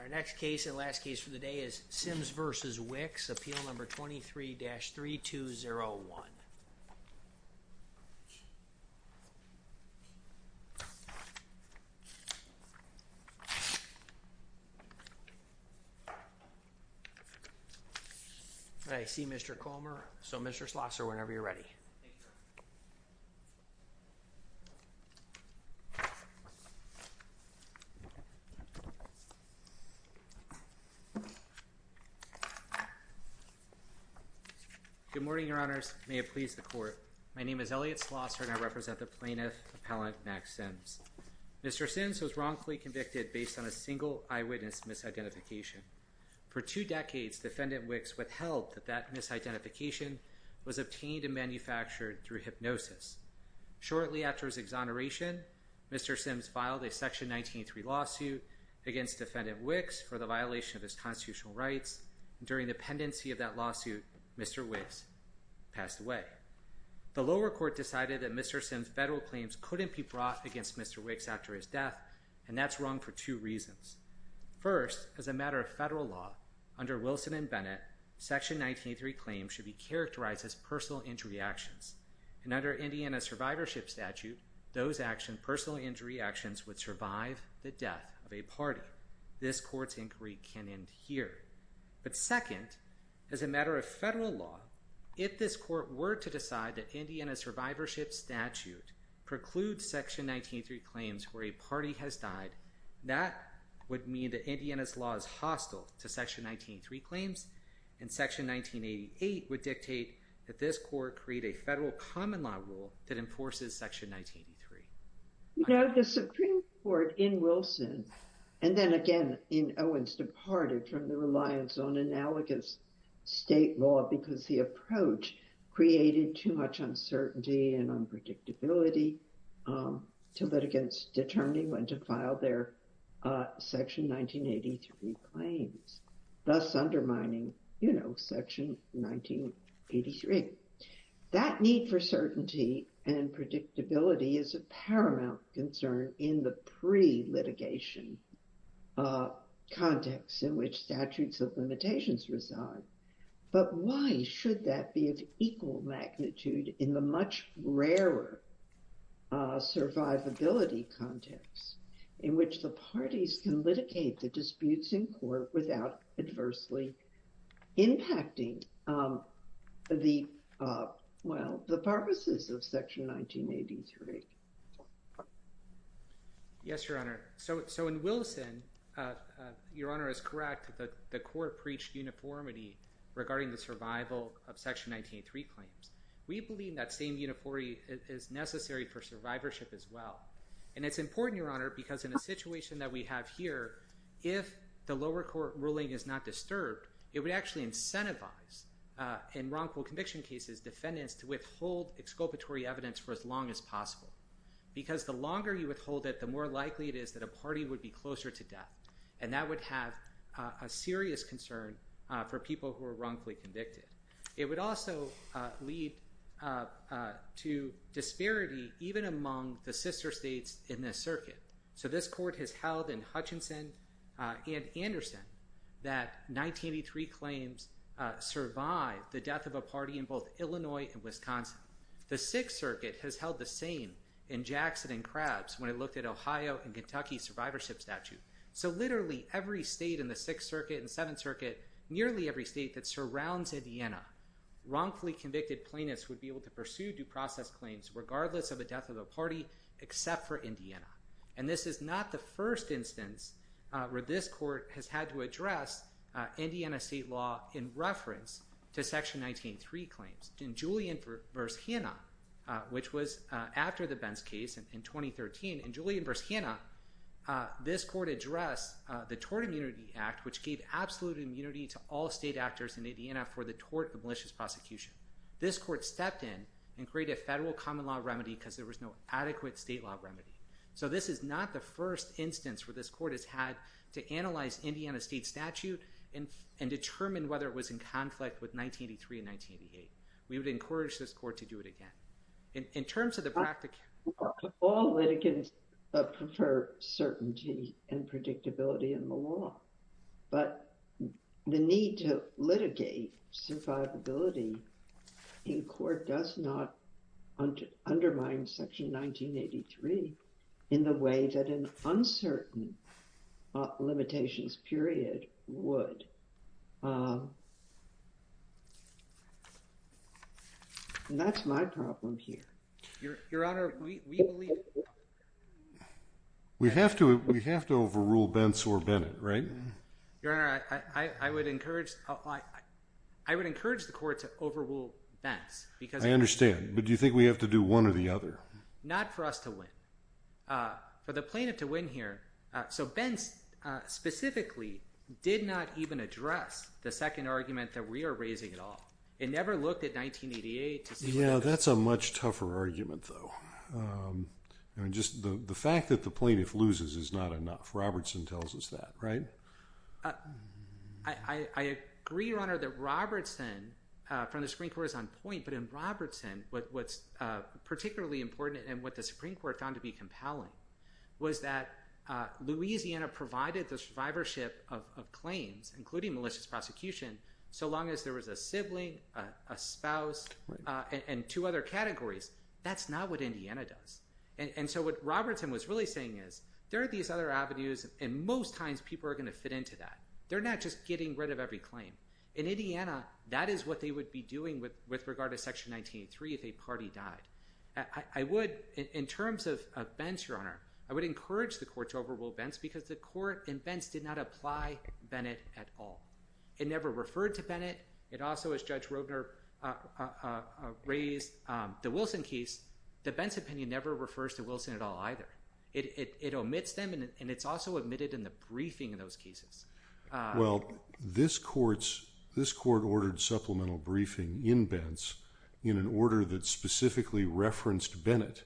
Our next case and last case for the day is Sims v. Wicks, appeal number 23-3201. I see Mr. Comer, so Mr. Schlosser, whenever you're ready. Good morning, your honors. May it please the court. My name is Elliot Schlosser and I represent the plaintiff, appellant Max Sims. Mr. Sims was wrongfully convicted based on a single eyewitness misidentification. For two decades, defendant Wicks withheld that that misidentification was obtained and manufactured through hypnosis. Shortly after his exoneration, Mr. Sims filed a section 1983 lawsuit against defendant Wicks for the violation of his constitutional rights. During the pendency of that lawsuit, Mr. Wicks passed away. The lower court decided that Mr. Sims' federal claims couldn't be brought against Mr. Wicks after his death, and that's wrong for two reasons. First, as a matter of federal law, under Wilson and Bennett, section 1983 claims should be characterized as personal injury actions. And under Indiana survivorship statute, those actions, personal injury actions, would survive the death of a party. This court's inquiry can end here. But second, as a matter of federal law, if this court were to decide that Indiana survivorship statute precludes section 1983 claims where a party has died, that would mean that Indiana's law is hostile to section 1983 claims, and section 1988 would dictate that this court create a federal common law rule that enforces section 1983. You know, the Supreme Court in Wilson and then again in Owens departed from the reliance on analogous state law because the approach created too much uncertainty and unpredictability to litigants determining when to file their section 1983 claims, thus undermining, you know, section 1983. That need for certainty and predictability is a paramount concern in the pre-litigation context in which statutes of limitations reside. But why should that be of equal magnitude in the much rarer survivability context in which the parties can litigate the disputes in court without adversely impacting the, well, the purposes of section 1983? Yes, Your Honor. So in Wilson, Your Honor is correct that the court preached uniformity regarding the survival of section 1983 claims. We believe that same uniformity is necessary for survivorship as well. And it's important, Your Honor, because in a situation that we have here, if the lower court ruling is not disturbed, it would actually incentivize in wrongful conviction cases defendants to withhold exculpatory evidence for as long as possible. Because the longer you withhold it, the more likely it is that a party would be closer to death, and that would have a serious concern for people who are wrongfully convicted. It would also lead to disparity even among the sister states in this circuit. So this court has held in Hutchinson and Anderson that 1983 claims survived the death of a party in both Illinois and Wisconsin. The Sixth Circuit has held the same in Jackson and Krabs when it looked at Ohio and Kentucky survivorship statute. So literally every state in the Sixth Circuit and Seventh Circuit, nearly every state that surrounds Indiana, wrongfully convicted plaintiffs would be able to pursue due process claims regardless of the death of a party except for Indiana. And this is not the first instance where this court has had to address Indiana state law in reference to section 1983 claims. In Julian v. Hanna, which was after the Benz case in 2013, in Julian v. Hanna, this court addressed the Tort Immunity Act, which gave absolute immunity to all state actors in Indiana for the tort of malicious prosecution. This court stepped in and created a federal common law remedy because there was no adequate state law remedy. So this is not the first instance where this court has had to analyze Indiana state statute and determine whether it was in conflict with 1983 and 1988. We would encourage this court to do it again. All litigants prefer certainty and predictability in the law, but the need to litigate survivability in court does not undermine section 1983 in the way that an uncertain limitations period would. And that's my problem here. Your Honor, we believe... We have to overrule Benz or Bennett, right? Your Honor, I would encourage the court to overrule Benz because... I understand, but do you think we have to do one or the other? Not for us to win. For the plaintiff to win here. So Benz specifically did not even address the second argument that we are raising at all. It never looked at 1988. Yeah, that's a much tougher argument though. The fact that the plaintiff loses is not enough. Robertson tells us that, right? I agree, Your Honor, that Robertson from the Supreme Court is on point. But in Robertson, what's particularly important and what the Supreme Court found to be compelling was that Louisiana provided the survivorship of claims, including malicious prosecution, so long as there was a sibling, a spouse, and two other categories. That's not what Indiana does. And so what Robertson was really saying is there are these other avenues, and most times people are going to fit into that. They're not just getting rid of every claim. In Indiana, that is what they would be doing with regard to Section 1983 if a party died. I would, in terms of Benz, Your Honor, I would encourage the court to overrule Benz because the court in Benz did not apply Bennett at all. It never referred to Bennett. It also, as Judge Roedner raised, the Wilson case, the Benz opinion never refers to Wilson at all either. It omits them, and it's also omitted in the briefing of those cases. Well, this court ordered supplemental briefing in Benz in an order that specifically referenced Bennett.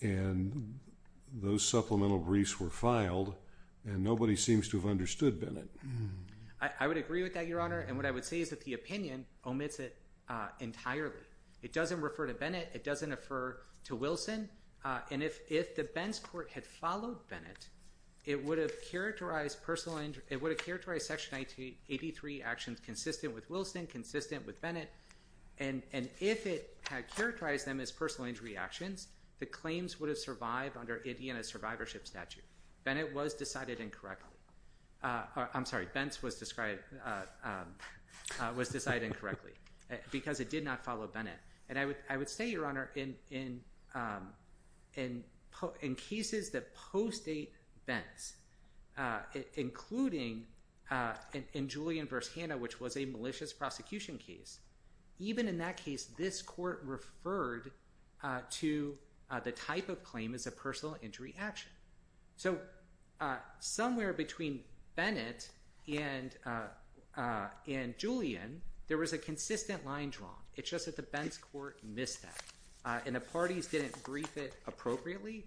And those supplemental briefs were filed, and nobody seems to have understood Bennett. I would agree with that, Your Honor, and what I would say is that the opinion omits it entirely. It doesn't refer to Bennett. It doesn't refer to Wilson. And if the Benz court had followed Bennett, it would have characterized Section 1983 actions consistent with Wilson, consistent with Bennett. And if it had characterized them as personal injury actions, the claims would have survived under Indiana's survivorship statute. Bennett was decided incorrectly. I'm sorry. Benz was decided incorrectly because it did not follow Bennett. And I would say, Your Honor, in cases that post-date Benz, including in Julian v. Hanna, which was a malicious prosecution case, even in that case, this court referred to the type of claim as a personal injury action. So somewhere between Bennett and Julian, there was a consistent line drawn. It's just that the Benz court missed that, and the parties didn't brief it appropriately.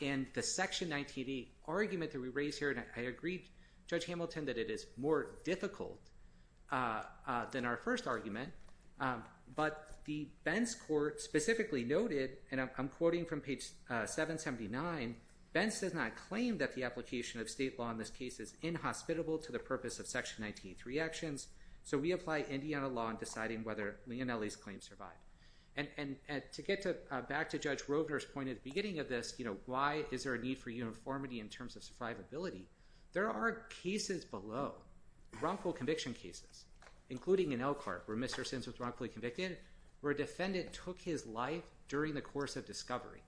And the Section 1988 argument that we raise here, and I agree, Judge Hamilton, that it is more difficult than our first argument, but the Benz court specifically noted, and I'm quoting from page 779, Benz does not claim that the application of state law in this case is inhospitable to the purpose of Section 1983 actions, so we apply Indiana law in deciding whether Leonelli's claims survive. And to get back to Judge Rovner's point at the beginning of this, you know, why is there a need for uniformity in terms of survivability, there are cases below, wrongful conviction cases, including in Elkhart, where Mr. Simms was wrongfully convicted, where a defendant took his life during the course of discovery.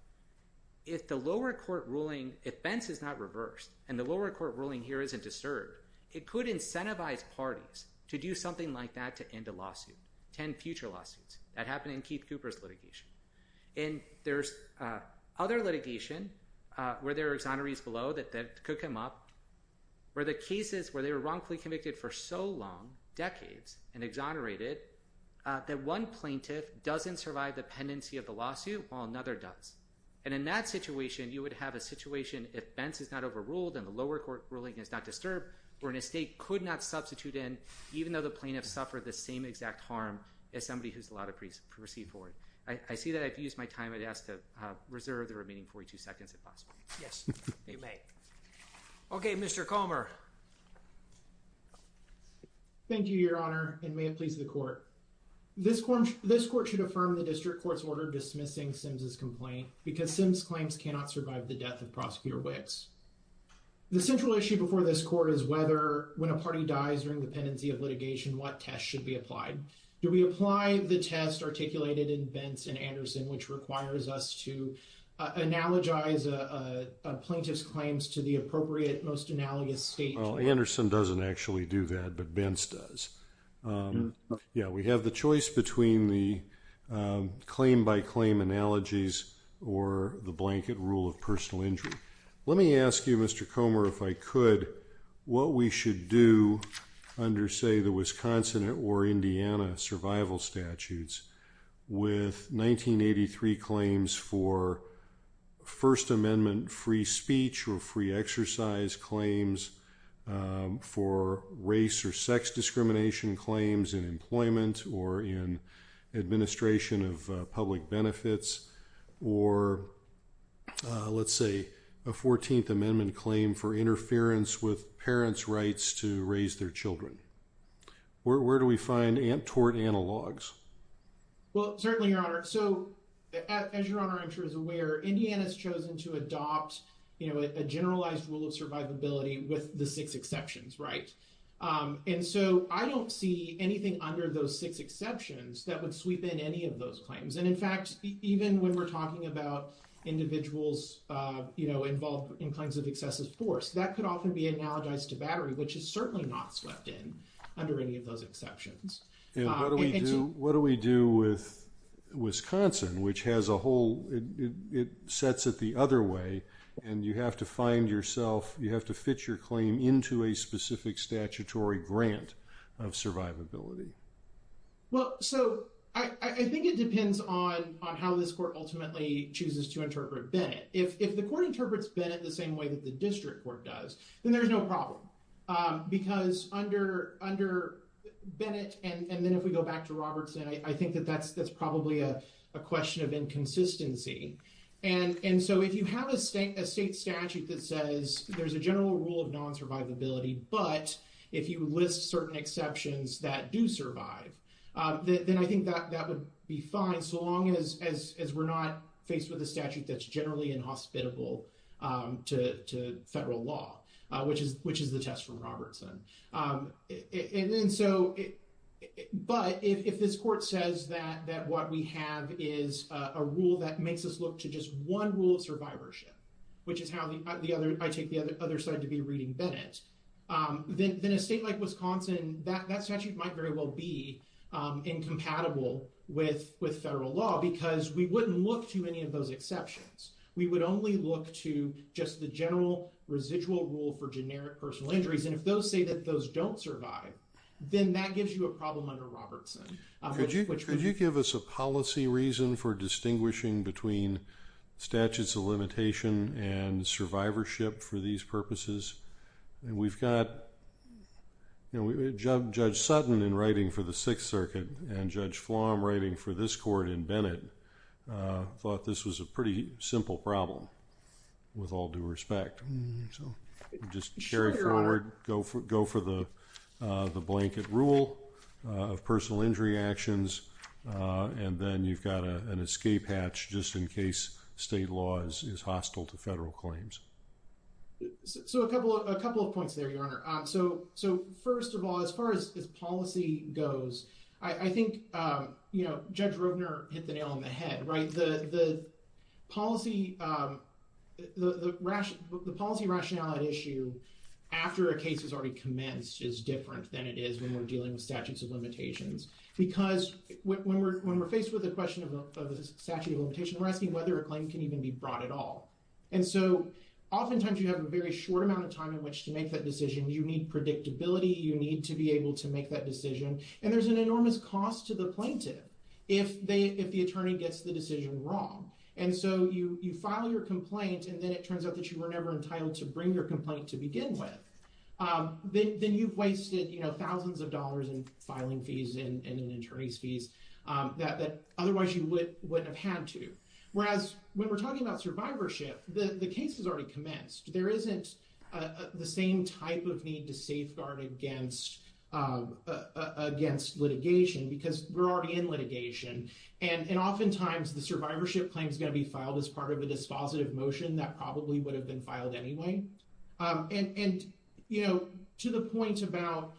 If the lower court ruling, if Benz is not reversed, and the lower court ruling here isn't disturbed, it could incentivize parties to do something like that to end a lawsuit, to end future lawsuits. That happened in Keith Cooper's litigation. And there's other litigation where there are exonerees below that could come up, where the cases where they were wrongfully convicted for so long, decades, and exonerated, that one plaintiff doesn't survive the pendency of the lawsuit while another does. And in that situation, you would have a situation if Benz is not overruled, and the lower court ruling is not disturbed, where an estate could not substitute in, even though the plaintiff suffered the same exact harm as somebody who's allowed to proceed forward. I see that I've used my time at desk to reserve the remaining 42 seconds, if possible. Yes, you may. Okay, Mr. Comer. Thank you, Your Honor, and may it please the court. This court should affirm the district court's order dismissing Simms's complaint because Simms's claims cannot survive the death of Prosecutor Wicks. The central issue before this court is whether, when a party dies during the pendency of litigation, what test should be applied. Do we apply the test articulated in Benz and Anderson, which requires us to analogize a plaintiff's claims to the appropriate, most analogous state? Well, Anderson doesn't actually do that, but Benz does. Yeah, we have the choice between the claim-by-claim analogies or the blanket rule of personal injury. Let me ask you, Mr. Comer, if I could, what we should do under, say, the Wisconsin or Indiana survival statutes with 1983 claims for First Amendment free speech or free exercise claims, for race or sex discrimination claims in employment or in administration of public benefits, or, let's say, a 14th Amendment claim for interference with parents' rights to raise their children. Where do we find tort analogs? Well, certainly, Your Honor. So, as Your Honor, I'm sure, is aware, Indiana's chosen to adopt a generalized rule of survivability with the six exceptions, right? And so I don't see anything under those six exceptions that would sweep in any of those claims. And, in fact, even when we're talking about individuals, you know, involved in claims of excessive force, that could often be analogized to battery, which is certainly not swept in under any of those exceptions. And what do we do with Wisconsin, which has a whole, it sets it the other way, and you have to find yourself, you have to fit your claim into a specific statutory grant of survivability. Well, so, I think it depends on how this court ultimately chooses to interpret Bennett. If the court interprets Bennett the same way that the district court does, then there's no problem. Because under Bennett, and then if we go back to Robertson, I think that that's probably a question of inconsistency. And so if you have a state statute that says there's a general rule of non-survivability, but if you list certain exceptions that do survive, then I think that would be fine, so long as we're not faced with a statute that's generally inhospitable to federal law, which is the test from Robertson. But if this court says that what we have is a rule that makes us look to just one rule of survivorship, which is how the other, I take the other side to be reading Bennett, then a state like Wisconsin, that statute might very well be incompatible with federal law, because we wouldn't look to any of those exceptions. We would only look to just the general residual rule for generic personal injuries. And if those say that those don't survive, then that gives you a problem under Robertson. Could you give us a policy reason for distinguishing between statutes of limitation and survivorship for these purposes? We've got Judge Sutton in writing for the Sixth Circuit, and Judge Flom writing for this court in Bennett, thought this was a pretty simple problem, with all due respect. Just carry forward, go for the blanket rule of personal injury actions, and then you've got an escape hatch just in case state law is hostile to federal claims. So a couple of points there, Your Honor. So first of all, as far as policy goes, I think Judge Roedner hit the nail on the head, right? The policy rationale at issue, after a case has already commenced, is different than it is when we're dealing with statutes of limitations. Because when we're faced with a question of a statute of limitation, we're asking whether a claim can even be brought at all. And so oftentimes you have a very short amount of time in which to make that decision. You need predictability, you need to be able to make that decision. And there's an enormous cost to the plaintiff if the attorney gets the decision wrong. And so you file your complaint, and then it turns out that you were never entitled to bring your complaint to begin with. Then you've wasted thousands of dollars in filing fees and in attorney's fees that otherwise you wouldn't have had to. Whereas when we're talking about survivorship, the case has already commenced. There isn't the same type of need to safeguard against litigation because we're already in litigation. And oftentimes the survivorship claim is going to be filed as part of a dispositive motion that probably would have been filed anyway. And to the point about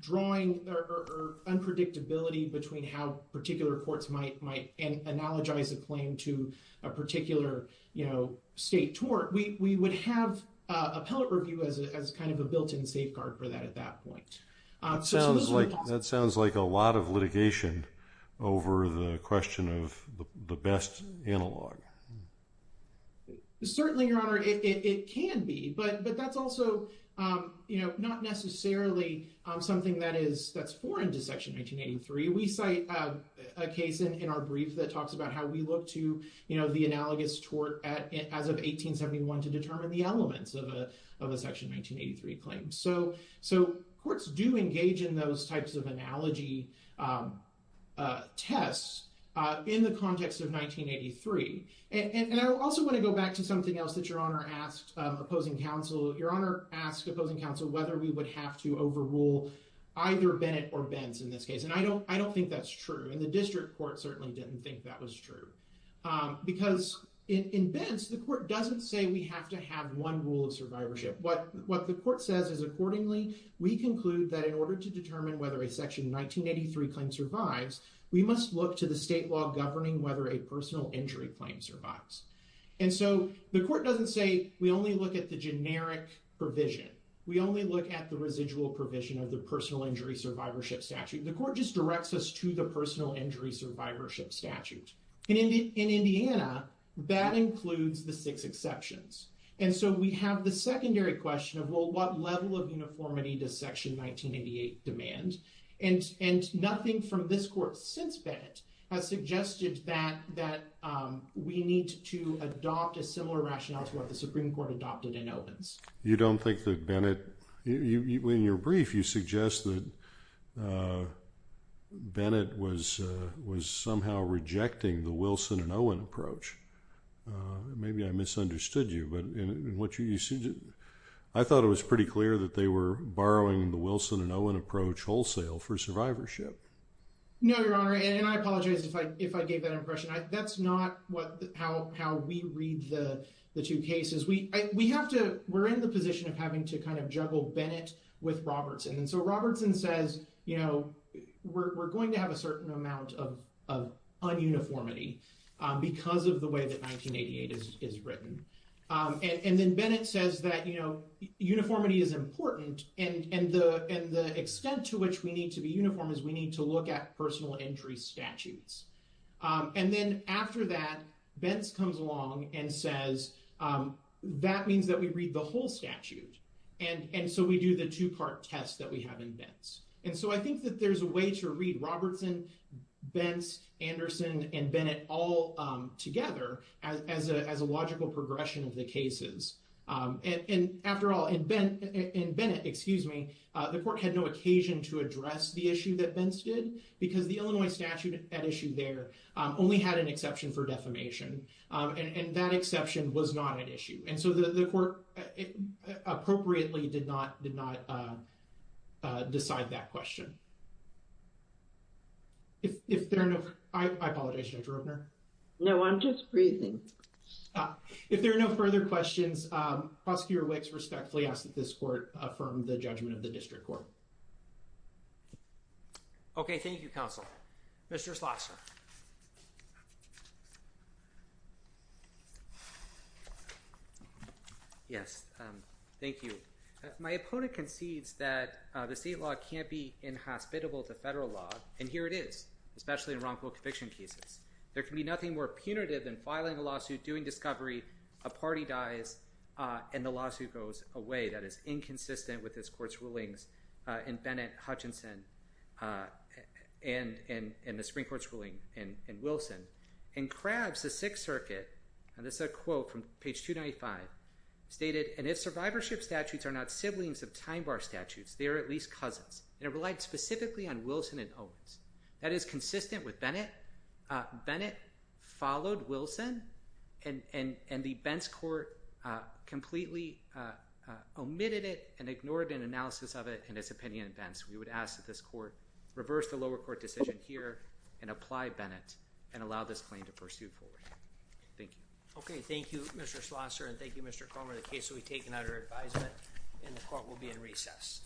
drawing or unpredictability between how particular courts might analogize a claim to a particular state tort, we would have appellate review as kind of a built-in safeguard for that at that point. That sounds like a lot of litigation over the question of the best analog. Certainly, Your Honor, it can be. But that's also not necessarily something that's foreign to Section 1983. We cite a case in our brief that talks about how we look to the analogous tort as of 1871 to determine the elements of a Section 1983 claim. So courts do engage in those types of analogy tests in the context of 1983. And I also want to go back to something else that Your Honor asked opposing counsel. Your Honor asked opposing counsel whether we would have to overrule either Bennett or Benz in this case. And I don't think that's true. And the district court certainly didn't think that was true. Because in Benz, the court doesn't say we have to have one rule of survivorship. What the court says is accordingly, we conclude that in order to determine whether a Section 1983 claim survives, we must look to the state law governing whether a personal injury claim survives. And so the court doesn't say we only look at the generic provision. We only look at the residual provision of the personal injury survivorship statute. The court just directs us to the personal injury survivorship statute. In Indiana, that includes the six exceptions. And so we have the secondary question of, well, what level of uniformity does Section 1988 demand? And nothing from this court since Bennett has suggested that we need to adopt a similar rationale to what the Supreme Court adopted in Owens. You don't think that Bennett – in your brief, you suggest that Bennett was somehow rejecting the Wilson and Owen approach. Maybe I misunderstood you. I thought it was pretty clear that they were borrowing the Wilson and Owen approach wholesale for survivorship. No, Your Honor, and I apologize if I gave that impression. That's not how we read the two cases. We have to – we're in the position of having to kind of juggle Bennett with Robertson. And so Robertson says, you know, we're going to have a certain amount of un-uniformity because of the way that 1988 is written. And then Bennett says that, you know, uniformity is important. And the extent to which we need to be uniform is we need to look at personal injury statutes. And then after that, Benz comes along and says, that means that we read the whole statute. And so we do the two-part test that we have in Benz. And so I think that there's a way to read Robertson, Benz, Anderson, and Bennett all together as a logical progression of the cases. And after all, in Ben – in Bennett, excuse me, the court had no occasion to address the issue that Benz did because the Illinois statute at issue there only had an exception for defamation. And that exception was not at issue. And so the court appropriately did not – did not decide that question. If there are no – I apologize, Judge Robner. No, I'm just breathing. If there are no further questions, Prosecutor Wicks respectfully asks that this court affirm the judgment of the district court. Okay, thank you, counsel. Mr. Schlosser. Yes, thank you. My opponent concedes that the state law can't be inhospitable to federal law, and here it is, especially in wrongful conviction cases. There can be nothing more punitive than filing a lawsuit, doing discovery, a party dies, and the lawsuit goes away. That is inconsistent with this court's rulings in Bennett, Hutchinson, and the Supreme Court's ruling in Wilson. And Krabs, the Sixth Circuit – and this is a quote from page 295 – stated, and if survivorship statutes are not siblings of time bar statutes, they are at least cousins. And it relied specifically on Wilson and Owens. That is consistent with Bennett. Bennett followed Wilson, and the Bentz court completely omitted it and ignored an analysis of it and its opinion in Bentz. We would ask that this court reverse the lower court decision here and apply Bennett and allow this claim to pursue forward. Thank you. Okay, thank you, Mr. Schlosser, and thank you, Mr. Comer. The case will be taken under advisement, and the court will be in recess.